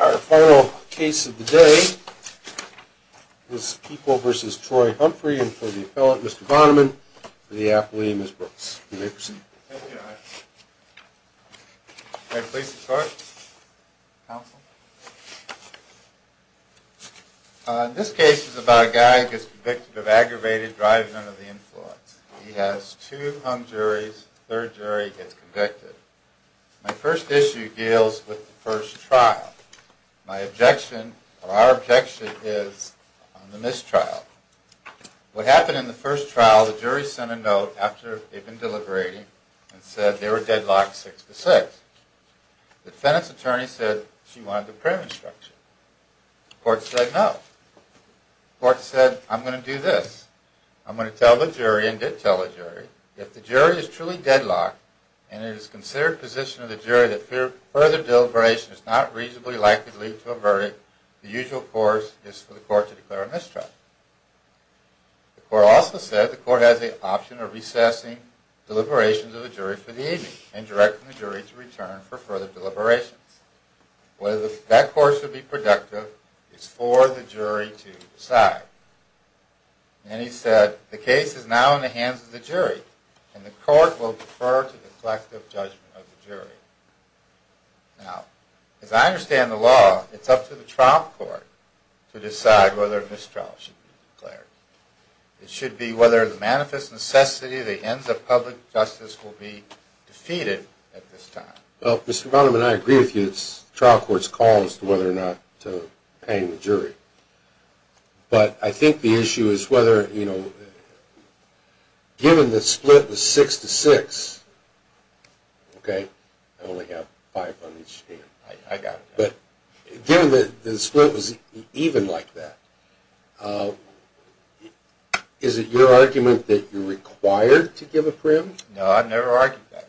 Our final case of the day is People v. Troy Humphrey and for the appellate, Mr. Vonneman, for the athlete, Ms. Brooks. May I proceed? Thank you. May I please start, counsel? This case is about a guy who gets convicted of aggravated driving under the influence. He has two hung juries, third jury gets convicted. My first issue deals with the first trial. My objection, or our objection, is on the mistrial. What happened in the first trial, the jury sent a note after they'd been deliberating and said they were deadlocked six to six. The defendant's attorney said she wanted the prayer instruction. The court said no. The court said, I'm going to do this. If the jury is truly deadlocked and it is considered position of the jury that further deliberation is not reasonably likely to lead to a verdict, the usual course is for the court to declare a mistrial. The court also said the court has the option of recessing deliberations of the jury for the evening and directing the jury to return for further deliberations. Whether that course would be productive is for the jury to decide. And he said, the case is now in the hands of the jury, and the court will defer to the collective judgment of the jury. Now, as I understand the law, it's up to the trial court to decide whether a mistrial should be declared. It should be whether the manifest necessity of the ends of public justice will be defeated at this time. Well, Mr. Bonham, and I agree with you, the trial court's call as to whether or not to hang the jury. But I think the issue is whether, you know, given the split was six to six, okay? I only have five on each hand. I got it. But given that the split was even like that, is it your argument that you're required to give a prim? No, I've never argued that.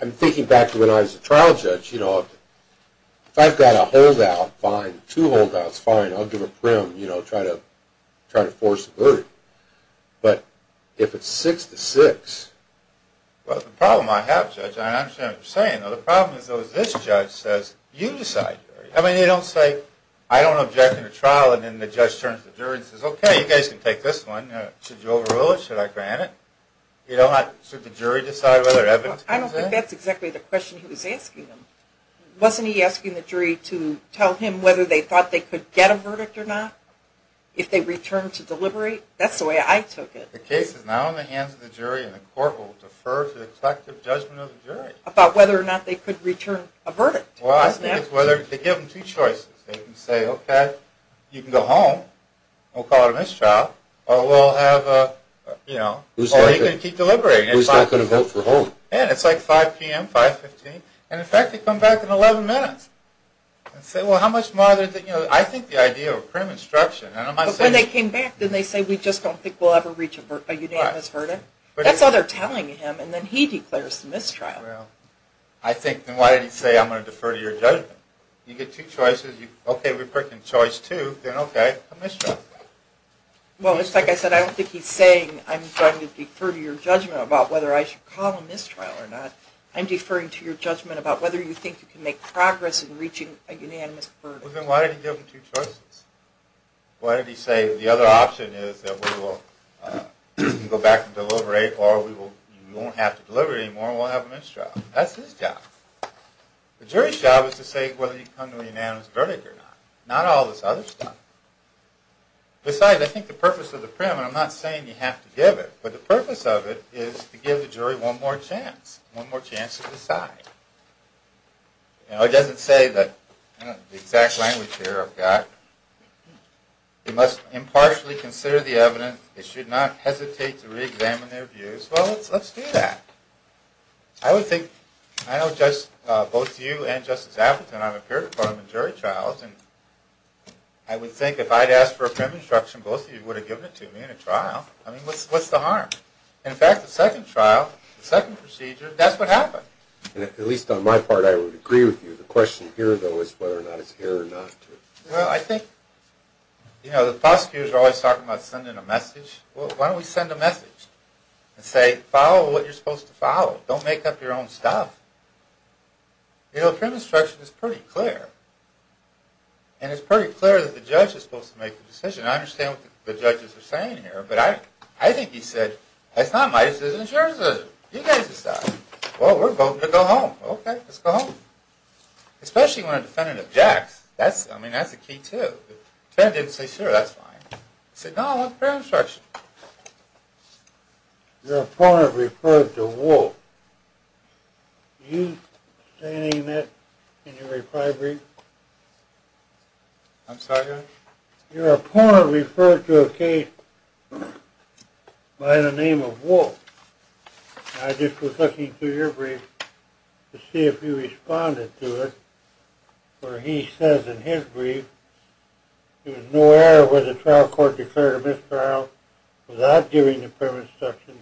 I'm thinking back to when I was a trial judge. You know, if I've got a holdout, fine. Two holdouts, fine. I'll give a prim, you know, try to force a verdict. But if it's six to six? Well, the problem I have, Judge, and I understand what you're saying, though, the problem is this judge says, you decide. I mean, they don't say, I don't object in a trial, and then the judge turns to the jury and says, okay, you guys can take this one. Should you overrule it? Should I grant it? Should the jury decide whether evidence comes in? I don't think that's exactly the question he was asking them. Wasn't he asking the jury to tell him whether they thought they could get a verdict or not if they returned to deliberate? That's the way I took it. The case is now in the hands of the jury, and the court will defer to the collective judgment of the jury. About whether or not they could return a verdict. Well, I think it's whether they give them two choices. They can say, okay, you can go home, and we'll call it a mistrial, or we'll have a, you know, or you can keep deliberating. Who's not going to vote for home? Yeah, and it's like 5 p.m., 5.15, and in fact, they come back in 11 minutes and say, well, how much more, you know, I think the idea of a prim instruction. But when they came back, didn't they say, we just don't think we'll ever reach a unanimous verdict? That's all they're telling him, and then he declares the mistrial. Well, I think, then why did he say, I'm going to defer to your judgment? You get two choices. Okay, we're picking choice two, then okay, a mistrial. Well, it's like I said, I don't think he's saying, I'm going to defer to your judgment about whether I should call a mistrial or not. I'm deferring to your judgment about whether you think you can make progress in reaching a unanimous verdict. Well, then why did he give them two choices? Why did he say, the other option is that we will go back and deliberate, or we won't have to deliberate anymore, and we'll have a mistrial? That's his job. The jury's job is to say whether you can come to a unanimous verdict or not, not all this other stuff. Besides, I think the purpose of the prim, and I'm not saying you have to give it, but the purpose of it is to give the jury one more chance, one more chance to decide. You know, it doesn't say that, you know, the exact language here I've got, you must impartially consider the evidence, they should not hesitate to re-examine their views. Well, let's do that. I would think, I know both you and Justice Appleton, I'm a peer department jury trial, and I would think if I'd asked for a prim instruction, both of you would have given it to me in a trial. I mean, what's the harm? In fact, the second trial, the second procedure, that's what happened. At least on my part, I would agree with you. The question here, though, is whether or not it's here or not. Well, I think, you know, the prosecutors are always talking about sending a message. Well, why don't we send a message and say, follow what you're supposed to follow, don't make up your own stuff. You know, a prim instruction is pretty clear, and it's pretty clear that the judge is supposed to make the decision. I understand what the judges are saying here, but I think he said, that's not my decision, it's your decision, you guys decide. Well, we're both going to go home. Okay, let's go home. Especially when a defendant objects, I mean, that's the key too. If the defendant didn't say sure, that's fine. I said, no, that's a prim instruction. Your opponent referred to Wolf. Are you saying that in your reply brief? I'm sorry, Judge? Your opponent referred to a case by the name of Wolf. I just was looking through your brief to see if you responded to it, where he says in his brief, there was no error where the trial court declared a misdial without giving the prim instruction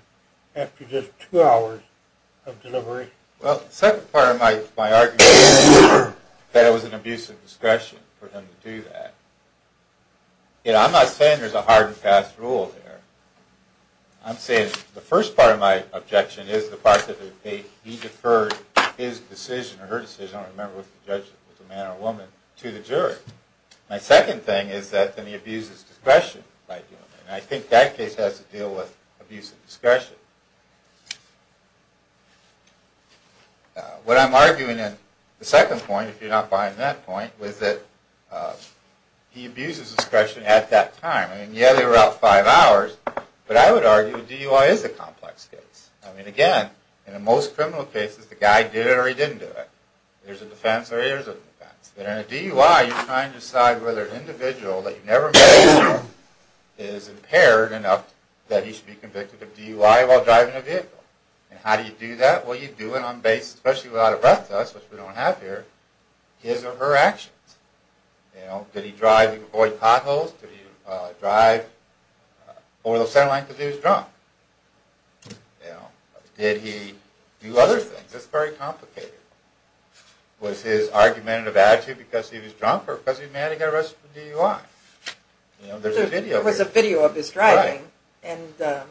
after just two hours of delivery. Well, the second part of my argument is that it was an abuse of discretion for him to do that. I'm not saying there's a hard and fast rule there. I'm saying the first part of my objection is the fact that he deferred his decision, or her decision, I don't remember if it was a man or a woman, to the jury. My second thing is that then he abuses discretion by doing that. And I think that case has to deal with abuse of discretion. What I'm arguing in the second point, if you're not buying that point, was that he abuses discretion at that time. I mean, yeah, they were out five hours, but I would argue a DUI is a complex case. I mean, again, in most criminal cases, the guy did it or he didn't do it. There's a defense or there isn't a defense. But in a DUI, you're trying to decide whether an individual that you've never met is impaired enough that he should be convicted of DUI while driving a vehicle. And how do you do that? Well, you do it on basis, especially without a breath test, which we don't have here, his or her actions. You know, did he drive and avoid potholes? Did he drive over the center line because he was drunk? Did he do other things? It's very complicated. Was his argumentative attitude because he was drunk or because he was mad he got arrested for DUI? You know, there's a video. There was a video of his driving, and I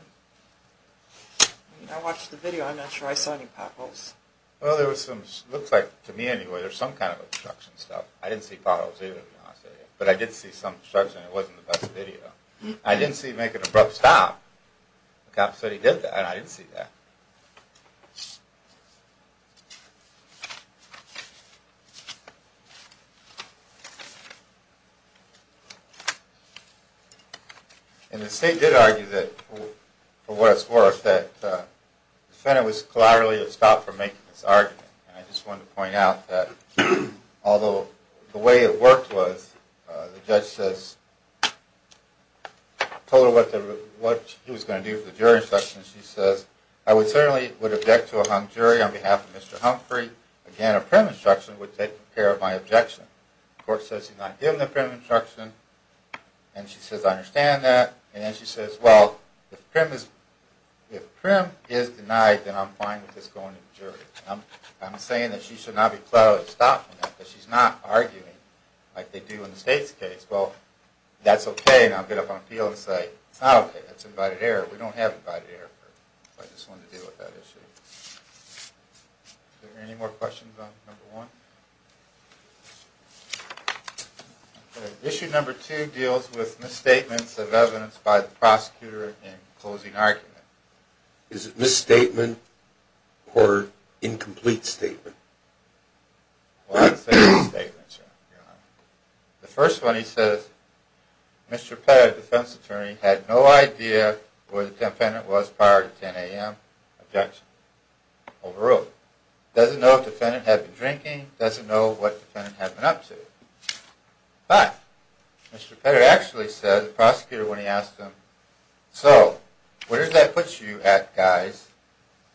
watched the video. I'm not sure I saw any potholes. Well, there was some – looks like, to me anyway, there's some kind of obstruction stuff. I didn't see potholes either, to be honest with you. But I did see some obstruction. It wasn't the best video. I didn't see him making an abrupt stop. The cop said he did that, and I didn't see that. And the state did argue that, for what it's worth, that the defendant was collaterally stopped from making this argument. And I just wanted to point out that although the way it worked was the judge says – told her what he was going to do for the jury instruction. She says, I certainly would object to a hung jury on behalf of Mr. Humphrey. Again, a prim instruction would take care of my objection. The court says she's not given the prim instruction, and she says, I understand that. And then she says, well, if prim is denied, then I'm fine with this going to the jury. I'm saying that she should not be collaterally stopped from that because she's not arguing like they do in the state's case. Well, that's okay, and I'll get up on the field and say, it's not okay. That's invited error. We don't have invited error. I just wanted to deal with that issue. Are there any more questions on number one? Okay. Issue number two deals with misstatements of evidence by the prosecutor in closing argument. Is it misstatement or incomplete statement? Well, I'd say misstatements, Your Honor. The first one, he says, Mr. Pettit, a defense attorney, had no idea where the defendant was prior to 10 a.m. Objection. Overruled. Doesn't know if the defendant had been drinking, doesn't know what the defendant had been up to. But Mr. Pettit actually said, the prosecutor, when he asked him, so where does that put you at, guys?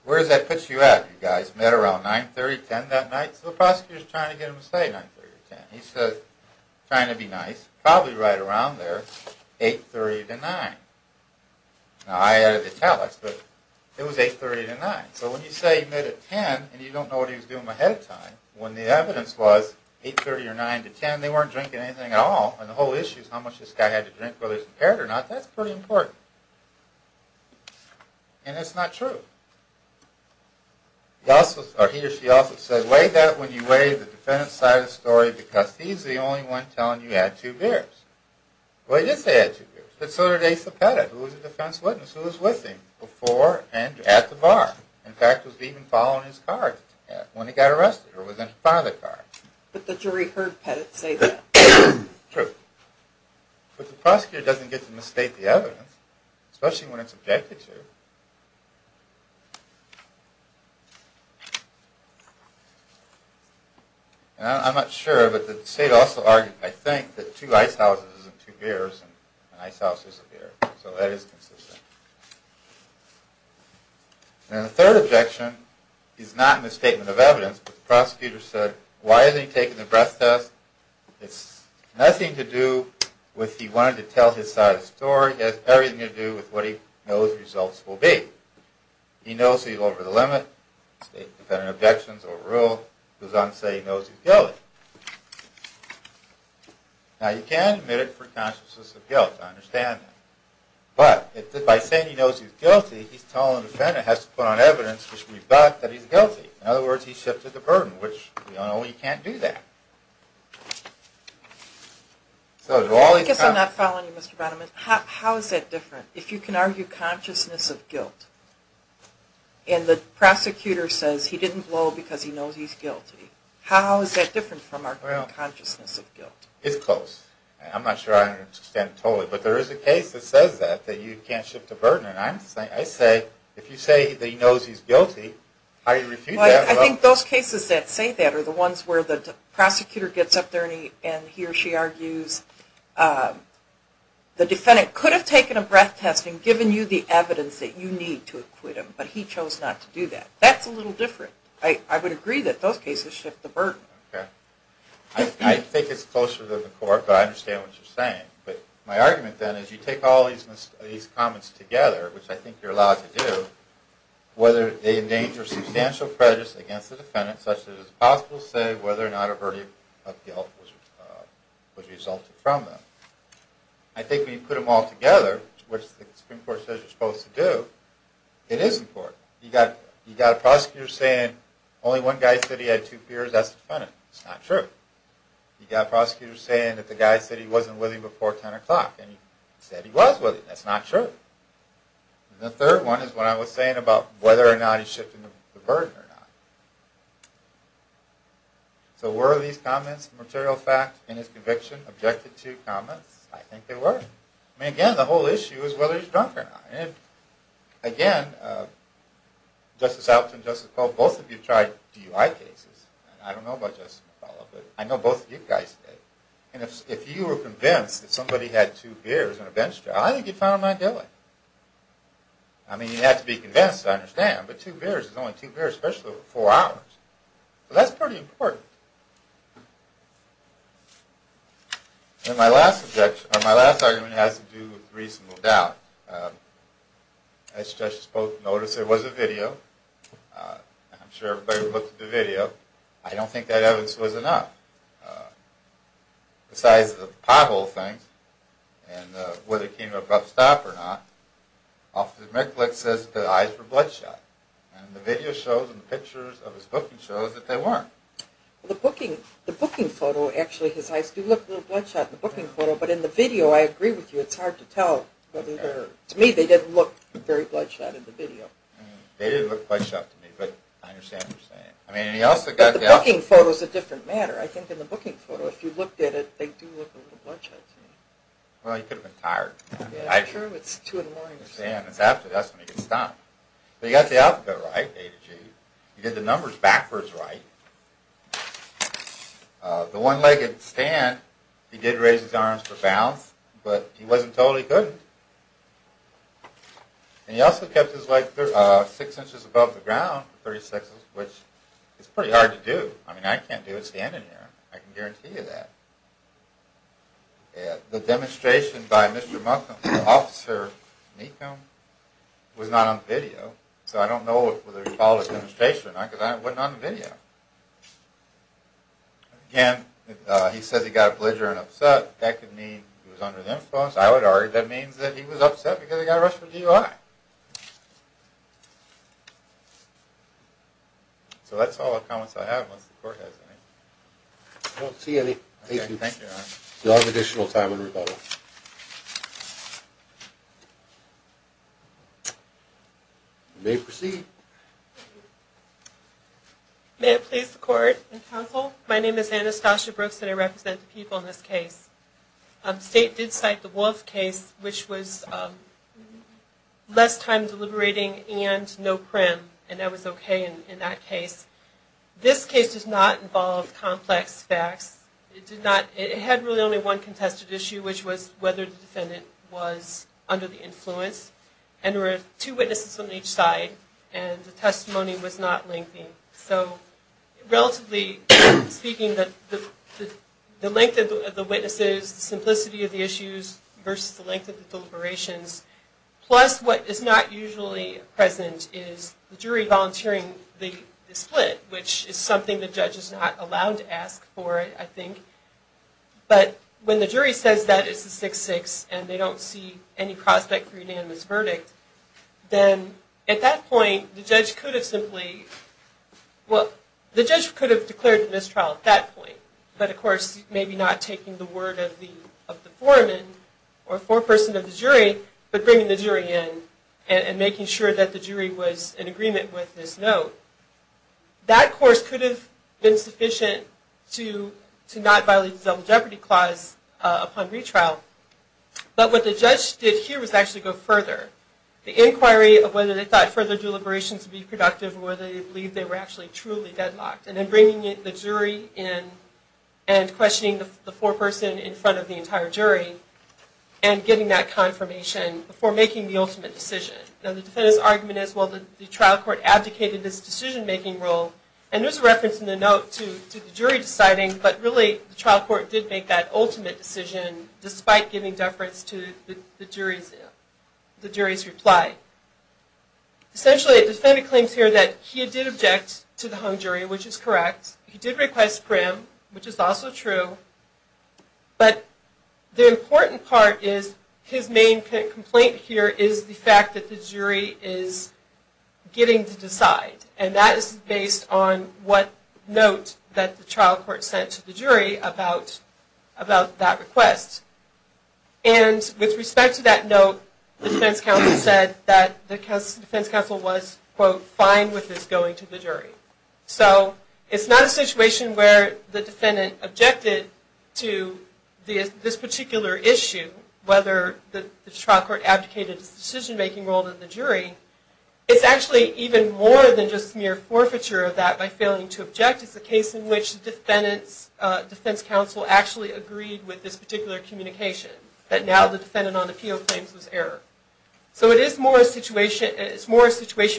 Where does that put you at, you guys? He said he met around 9, 30, 10 that night, so the prosecutor is trying to get him to say 9, 30, 10. He says, trying to be nice, probably right around there, 8, 30 to 9. Now, I added italics, but it was 8, 30 to 9. So when you say he met at 10 and you don't know what he was doing ahead of time, when the evidence was 8, 30 or 9 to 10, they weren't drinking anything at all, and the whole issue is how much this guy had to drink, whether he was impaired or not. That's pretty important. And it's not true. He or she also said, weigh that when you weigh the defendant's side of the story, because he's the only one telling you he had two beers. Well, he did say he had two beers, but so did Asa Pettit, who was a defense witness, who was with him before and at the bar. In fact, was even following his car when he got arrested, or was in front of the car. But the jury heard Pettit say that. True. But the prosecutor doesn't get to misstate the evidence, especially when it's objected to. I'm not sure, but the state also argued, I think, that two ice houses and two beers, and an ice house is a beer. So that is consistent. And the third objection is not in the statement of evidence, but the prosecutor said, why isn't he taking the breath test? It's nothing to do with he wanted to tell his side of the story. It has everything to do with what he knows the results will be. He knows he's over the limit. State and defendant objections overruled. It goes on to say he knows he's guilty. Now, you can admit it for consciousness of guilt. I understand that. But by saying he knows he's guilty, he's telling the defendant he has to put on evidence to rebut that he's guilty. In other words, he's shifted the burden, which we all know he can't do that. I guess I'm not following you, Mr. Bannerman. How is that different? If you can argue consciousness of guilt, and the prosecutor says he didn't blow because he knows he's guilty, how is that different from our consciousness of guilt? It's close. I'm not sure I understand it totally. But there is a case that says that, that you can't shift the burden. If you say that he knows he's guilty, how do you refute that? I think those cases that say that are the ones where the prosecutor gets up there and he or she argues, the defendant could have taken a breath test and given you the evidence that you need to acquit him, but he chose not to do that. That's a little different. I would agree that those cases shift the burden. I think it's closer to the court, but I understand what you're saying. But my argument then is you take all these comments together, which I think you're allowed to do, whether they endanger substantial prejudice against the defendant, such that it is possible to say whether or not a verdict of guilt was resulted from them. I think when you put them all together, which the Supreme Court says you're supposed to do, it is important. You've got a prosecutor saying only one guy said he had two peers, that's the defendant. It's not true. You've got a prosecutor saying that the guy said he wasn't with him before 10 o'clock, and he said he was with him. That's not true. The third one is what I was saying about whether or not he's shifting the burden or not. So were these comments, the material facts in his conviction, objected to comments? I think they were. Again, the whole issue is whether he's drunk or not. Again, Justice Altshuler and Justice McCullough, both of you tried DUI cases. I don't know about Justice McCullough, but I know both of you guys did. And if you were convinced that somebody had two beers in a bench trial, I think you'd find them not guilty. I mean, you'd have to be convinced, I understand, but two beers is only two beers, especially over four hours. So that's pretty important. And my last argument has to do with reasonable doubt. I suggest you both notice there was a video. I'm sure everybody looked at the video. I don't think that evidence was enough. Besides the pothole thing and whether he came to a rough stop or not, Officer Miklick says that the eyes were bloodshot. And the video shows and the pictures of his booking shows that they weren't. The booking photo, actually, his eyes do look a little bloodshot in the booking photo, but in the video, I agree with you, it's hard to tell. To me, they didn't look very bloodshot in the video. They did look bloodshot to me, but I understand what you're saying. But the booking photo is a different matter. I think in the booking photo, if you looked at it, they do look a little bloodshot to me. Well, he could have been tired. True, it's two in the morning. That's when he gets stumped. But he got the alphabet right, A to G. He did the numbers backwards right. The one-legged stand, he did raise his arms for balance, but he wasn't told he couldn't. And he also kept his legs six inches above the ground for 36 inches, which is pretty hard to do. I mean, I can't do it standing here. I can guarantee you that. The demonstration by Mr. Munkum, Officer Minkum, was not on video, so I don't know whether he followed the demonstration or not, because it wasn't on the video. Again, he said he got a blidger and upset. That could mean he was under the influence. I would argue that means that he was upset because he got rushed for DUI. So that's all the comments I have, unless the court has any. I don't see any. Thank you. You'll have additional time in rebuttal. You may proceed. May it please the court and counsel, my name is Anastasia Brooks and I represent the people in this case. The state did cite the Wolf case, which was less time deliberating and no prim, and that was okay in that case. This case does not involve complex facts. It had really only one contested issue, which was whether the defendant was under the influence. And there were two witnesses on each side, and the testimony was not lengthy. So relatively speaking, the length of the witnesses, the simplicity of the issues versus the length of the deliberations, plus what is not usually present is the jury volunteering the split, which is something the judge is not allowed to ask for, I think. But when the jury says that, it's a 6-6, and they don't see any prospect for unanimous verdict, then at that point, the judge could have simply, well, the judge could have declared the mistrial at that point, but of course, maybe not taking the word of the foreman or foreperson of the jury, but bringing the jury in and making sure that the jury was in agreement with this note. That, of course, could have been sufficient to not violate the Double Jeopardy Clause upon retrial. But what the judge did here was actually go further. The inquiry of whether they thought further deliberations would be productive or whether they believed they were actually truly deadlocked, and then bringing the jury in and questioning the foreperson in front of the entire jury and getting that confirmation before making the ultimate decision. Now, the defendant's argument is, well, the trial court abdicated this decision-making role, and there's a reference in the note to the jury deciding, but really, the trial court did make that ultimate decision, despite giving deference to the jury's reply. Essentially, the defendant claims here that he did object to the hung jury, which is correct. He did request prim, which is also true. But the important part is his main complaint here is the fact that the jury is getting to decide, and that is based on what note that the trial court sent to the jury about that request. And with respect to that note, the defense counsel said that the defense counsel was, quote, fine with this going to the jury. So it's not a situation where the defendant objected to this particular issue, whether the trial court abdicated its decision-making role to the jury. It's actually even more than just mere forfeiture of that by failing to object. It's a case in which the defense counsel actually agreed with this particular communication, that now the defendant on appeal claims was error. So it is more a situation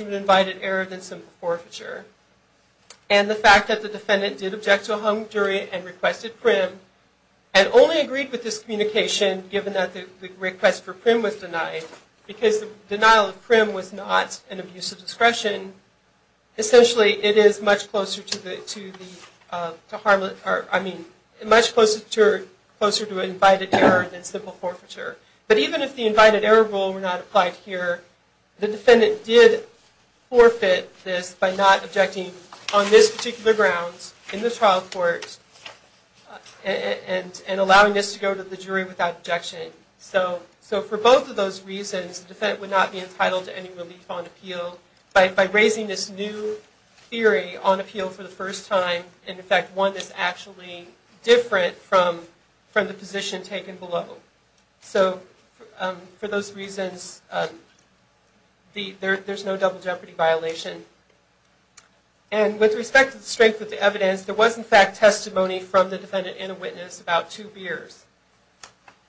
of invited error than simple forfeiture. And the fact that the defendant did object to a hung jury and requested prim, and only agreed with this communication given that the request for prim was denied, because the denial of prim was not an abuse of discretion, essentially it is much closer to invited error than simple forfeiture. But even if the invited error rule were not applied here, the defendant did forfeit this by not objecting on this particular ground in the trial court and allowing this to go to the jury without objection. So for both of those reasons, the defendant would not be entitled to any relief on appeal. By raising this new theory on appeal for the first time, in effect one that's actually different from the position taken below. So for those reasons, there's no double jeopardy violation. And with respect to the strength of the evidence, there was in fact testimony from the defendant and a witness about two beers.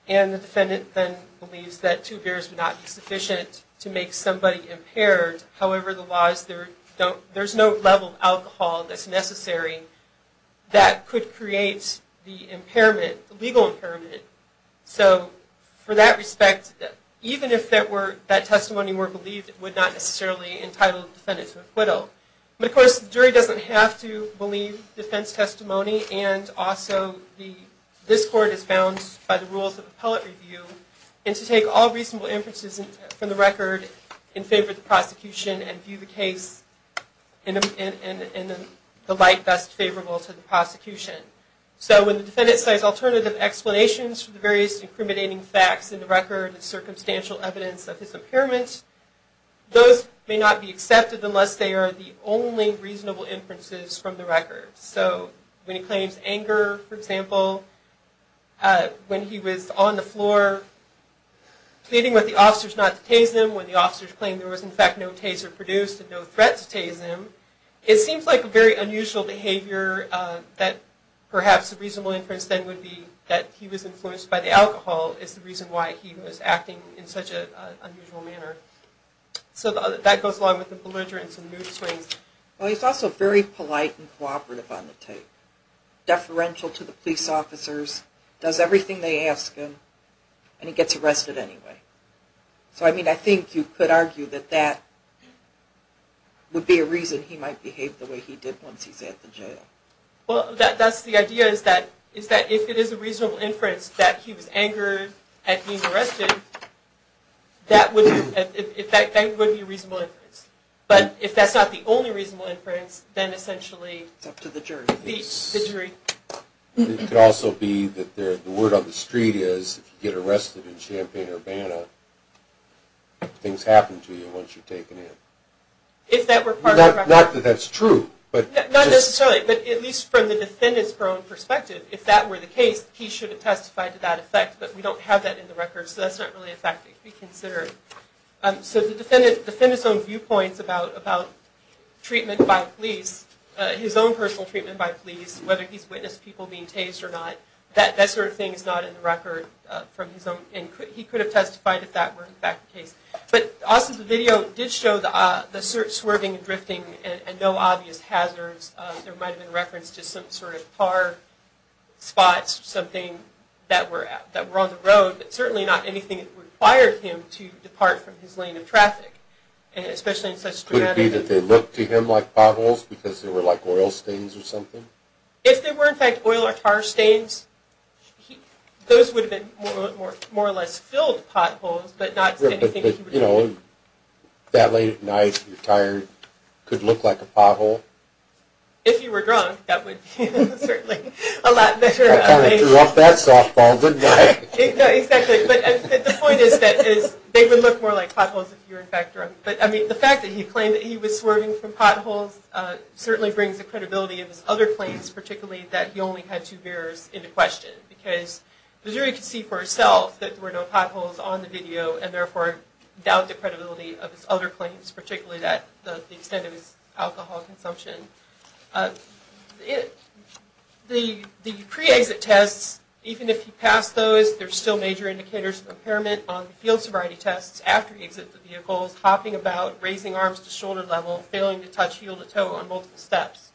And the defendant then believes that two beers would not be sufficient to make somebody impaired. However, there's no level of alcohol that's necessary that could create the legal impairment. So for that respect, even if that testimony were believed, it would not necessarily entitle the defendant to acquittal. But of course, the jury doesn't have to believe defense testimony. And also, this court is bound by the rules of appellate review and to take all reasonable inferences from the record in favor of the prosecution and view the case in the light best favorable to the prosecution. So when the defendant says alternative explanations for the various incriminating facts in the record and circumstantial evidence of his impairment, those may not be accepted unless they are the only reasonable inferences from the record. So when he claims anger, for example, when he was on the floor pleading with the officers not to tase him, when the officers claimed there was in fact no taser produced and no threat to tase him, it seems like a very unusual behavior that perhaps a reasonable inference then would be that he was influenced by the alcohol is the reason why he was acting in such an unusual manner. So that goes along with the belligerence and mood swings. Well, he's also very polite and cooperative on the tape, deferential to the police officers, does everything they ask him, and he gets arrested anyway. So I mean, I think you could argue that that would be a reason he might behave the way he did once he's at the jail. Well, that's the idea, is that if it is a reasonable inference that he was angered at being arrested, that would be a reasonable inference. But if that's not the only reasonable inference, then essentially it's up to the jury. It could also be that the word on the street is, if you get arrested in Champaign-Urbana, things happen to you once you're taken in. Not that that's true. Not necessarily, but at least from the defendant's own perspective, if that were the case, he should have testified to that effect, but we don't have that in the record, so that's not really a fact that could be considered. So the defendant's own viewpoints about treatment by police, his own personal treatment by police, whether he's witnessed people being tased or not, that sort of thing is not in the record from his own, and he could have testified if that were in fact the case. But also the video did show the swerving and drifting and no obvious hazards. There might have been reference to some sort of car spots or something that were on the road, but certainly not anything that required him to depart from his lane of traffic, especially in such dramatic... Would it be that they looked to him like potholes because they were like oil stains or something? If they were in fact oil or tar stains, those would have been more or less filled potholes, but not anything that he would have... That late at night, you're tired, could look like a pothole? If you were drunk, that would certainly be a lot better... Exactly, but the point is that they would look more like potholes if you were in fact drunk. But the fact that he claimed that he was swerving from potholes certainly brings the credibility of his other claims, particularly that he only had two beers into question, because Missouri could see for itself that there were no potholes on the video and therefore doubt the credibility of his other claims, particularly the extent of his alcohol consumption. The pre-exit tests, even if you pass those, there's still major indicators of impairment on the field sobriety tests, after you exit the vehicle, hopping about, raising arms to shoulder level, failing to touch heel to toe on multiple steps.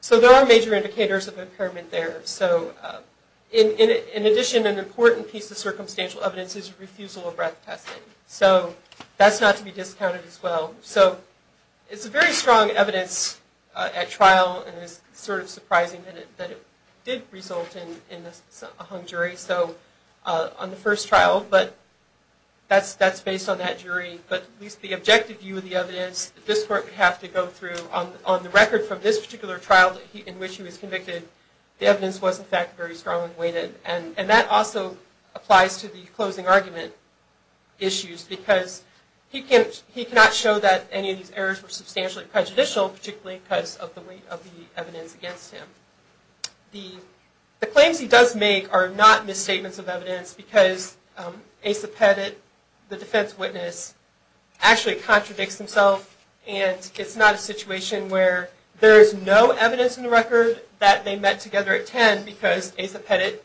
So there are major indicators of impairment there. In addition, an important piece of circumstantial evidence is refusal of breath testing. So that's not to be discounted as well. It's a very strong evidence at trial, and it's sort of surprising that it did result in a hung jury on the first trial, but that's based on that jury. But at least the objective view of the evidence that this court would have to go through, on the record from this particular trial in which he was convicted, the evidence was in fact very strongly weighted. And that also applies to the closing argument issues, because he cannot show that any of these errors were substantially prejudicial, particularly because of the weight of the evidence against him. The claims he does make are not misstatements of evidence, because Asa Pettit, the defense witness, actually contradicts himself, and it's not a situation where there is no evidence in the record that they met together at 10, because Asa Pettit,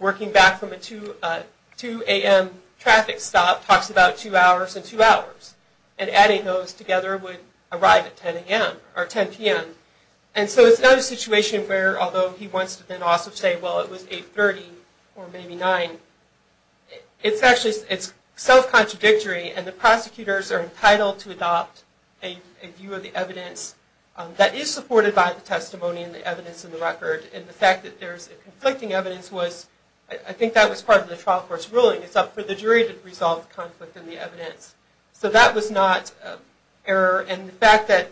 working back from a 2 a.m. traffic stop, talks about two hours and two hours, and adding those together would arrive at 10 a.m. or 10 p.m. And so it's not a situation where, although he wants to then also say, well, it was 8.30 or maybe 9, it's actually self-contradictory, and the prosecutors are entitled to adopt a view of the evidence that is supported by the testimony and the evidence in the record, and the fact that there's conflicting evidence was, I think that was part of the trial court's ruling, it's up for the jury to resolve the conflict in the evidence. So that was not an error. And the fact that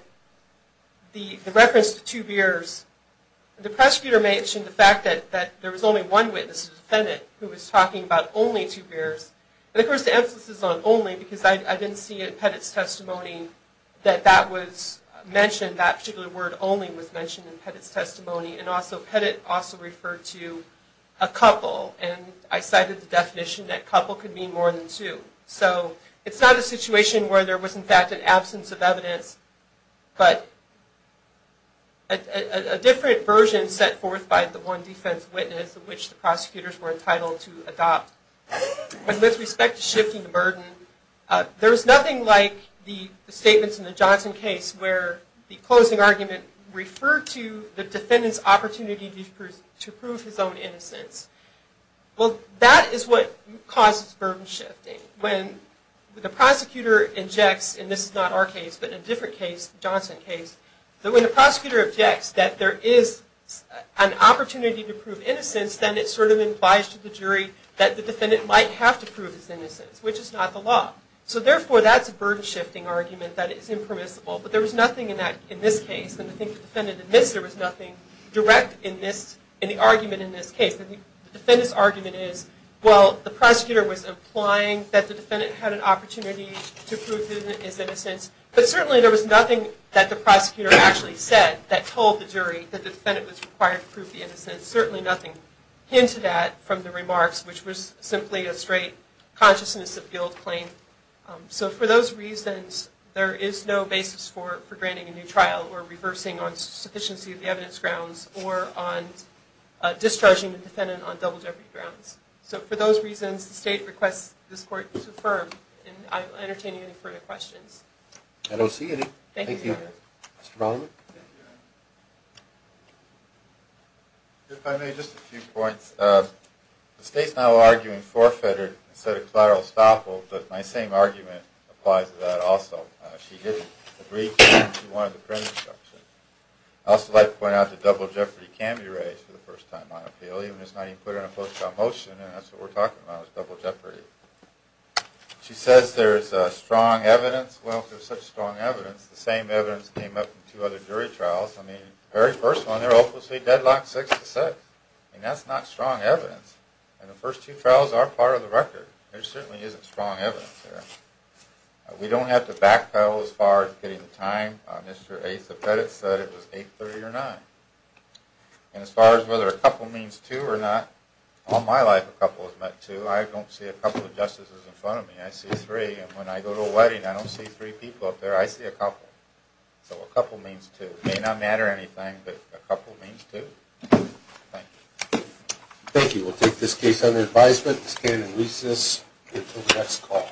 the reference to two beers, the prosecutor mentioned the fact that there was only one witness, a defendant, who was talking about only two beers. And of course the emphasis is on only, because I didn't see it in Pettit's testimony and also Pettit also referred to a couple, and I cited the definition that couple could mean more than two. So it's not a situation where there was in fact an absence of evidence, but a different version set forth by the one defense witness which the prosecutors were entitled to adopt. With respect to shifting the burden, there was nothing like the statements in the Johnson case where the closing argument referred to the defendant's opportunity to prove his own innocence. Well, that is what causes burden shifting. When the prosecutor injects, and this is not our case, but in a different case, Johnson case, that when the prosecutor objects that there is an opportunity to prove innocence, then it sort of implies to the jury that the defendant might have to prove his innocence, which is not the law. So therefore that's a burden shifting argument that is impermissible. But there was nothing in this case, and I think the defendant admits there was nothing direct in the argument in this case. The defendant's argument is, well, the prosecutor was implying that the defendant had an opportunity to prove his innocence, but certainly there was nothing that the prosecutor actually said that told the jury that the defendant was required to prove the innocence. Certainly nothing hinted at from the remarks, which was simply a straight consciousness of guilt claim. So for those reasons, there is no basis for granting a new trial or reversing on sufficiency of the evidence grounds or on discharging the defendant on double jeopardy grounds. So for those reasons, the State requests this Court to affirm, and I will entertain any further questions. I don't see any. Thank you. Mr. Bollinger? Thank you. If I may, just a few points. The State's now arguing forfeited instead of collateral estoppel, but my same argument applies to that also. She didn't agree, and she wanted the print instruction. I'd also like to point out that double jeopardy can be raised for the first time on appeal, even if it's not even put in a post-trial motion, and that's what we're talking about is double jeopardy. She says there is strong evidence. Well, if there's such strong evidence, it's the same evidence that came up in two other jury trials. I mean, the very first one, they're hopelessly deadlocked 6 to 6. I mean, that's not strong evidence. And the first two trials are part of the record. There certainly isn't strong evidence there. We don't have to backpedal as far as getting the time. Mr. A. Zepedic said it was 8.30 or 9. And as far as whether a couple means two or not, all my life a couple has meant two. I don't see a couple of justices in front of me. I see three, and when I go to a wedding, I don't see three people up there. I see a couple. So a couple means two. It may not matter anything, but a couple means two. Thank you. Thank you. We'll take this case under advisement, stand in recess until the next call.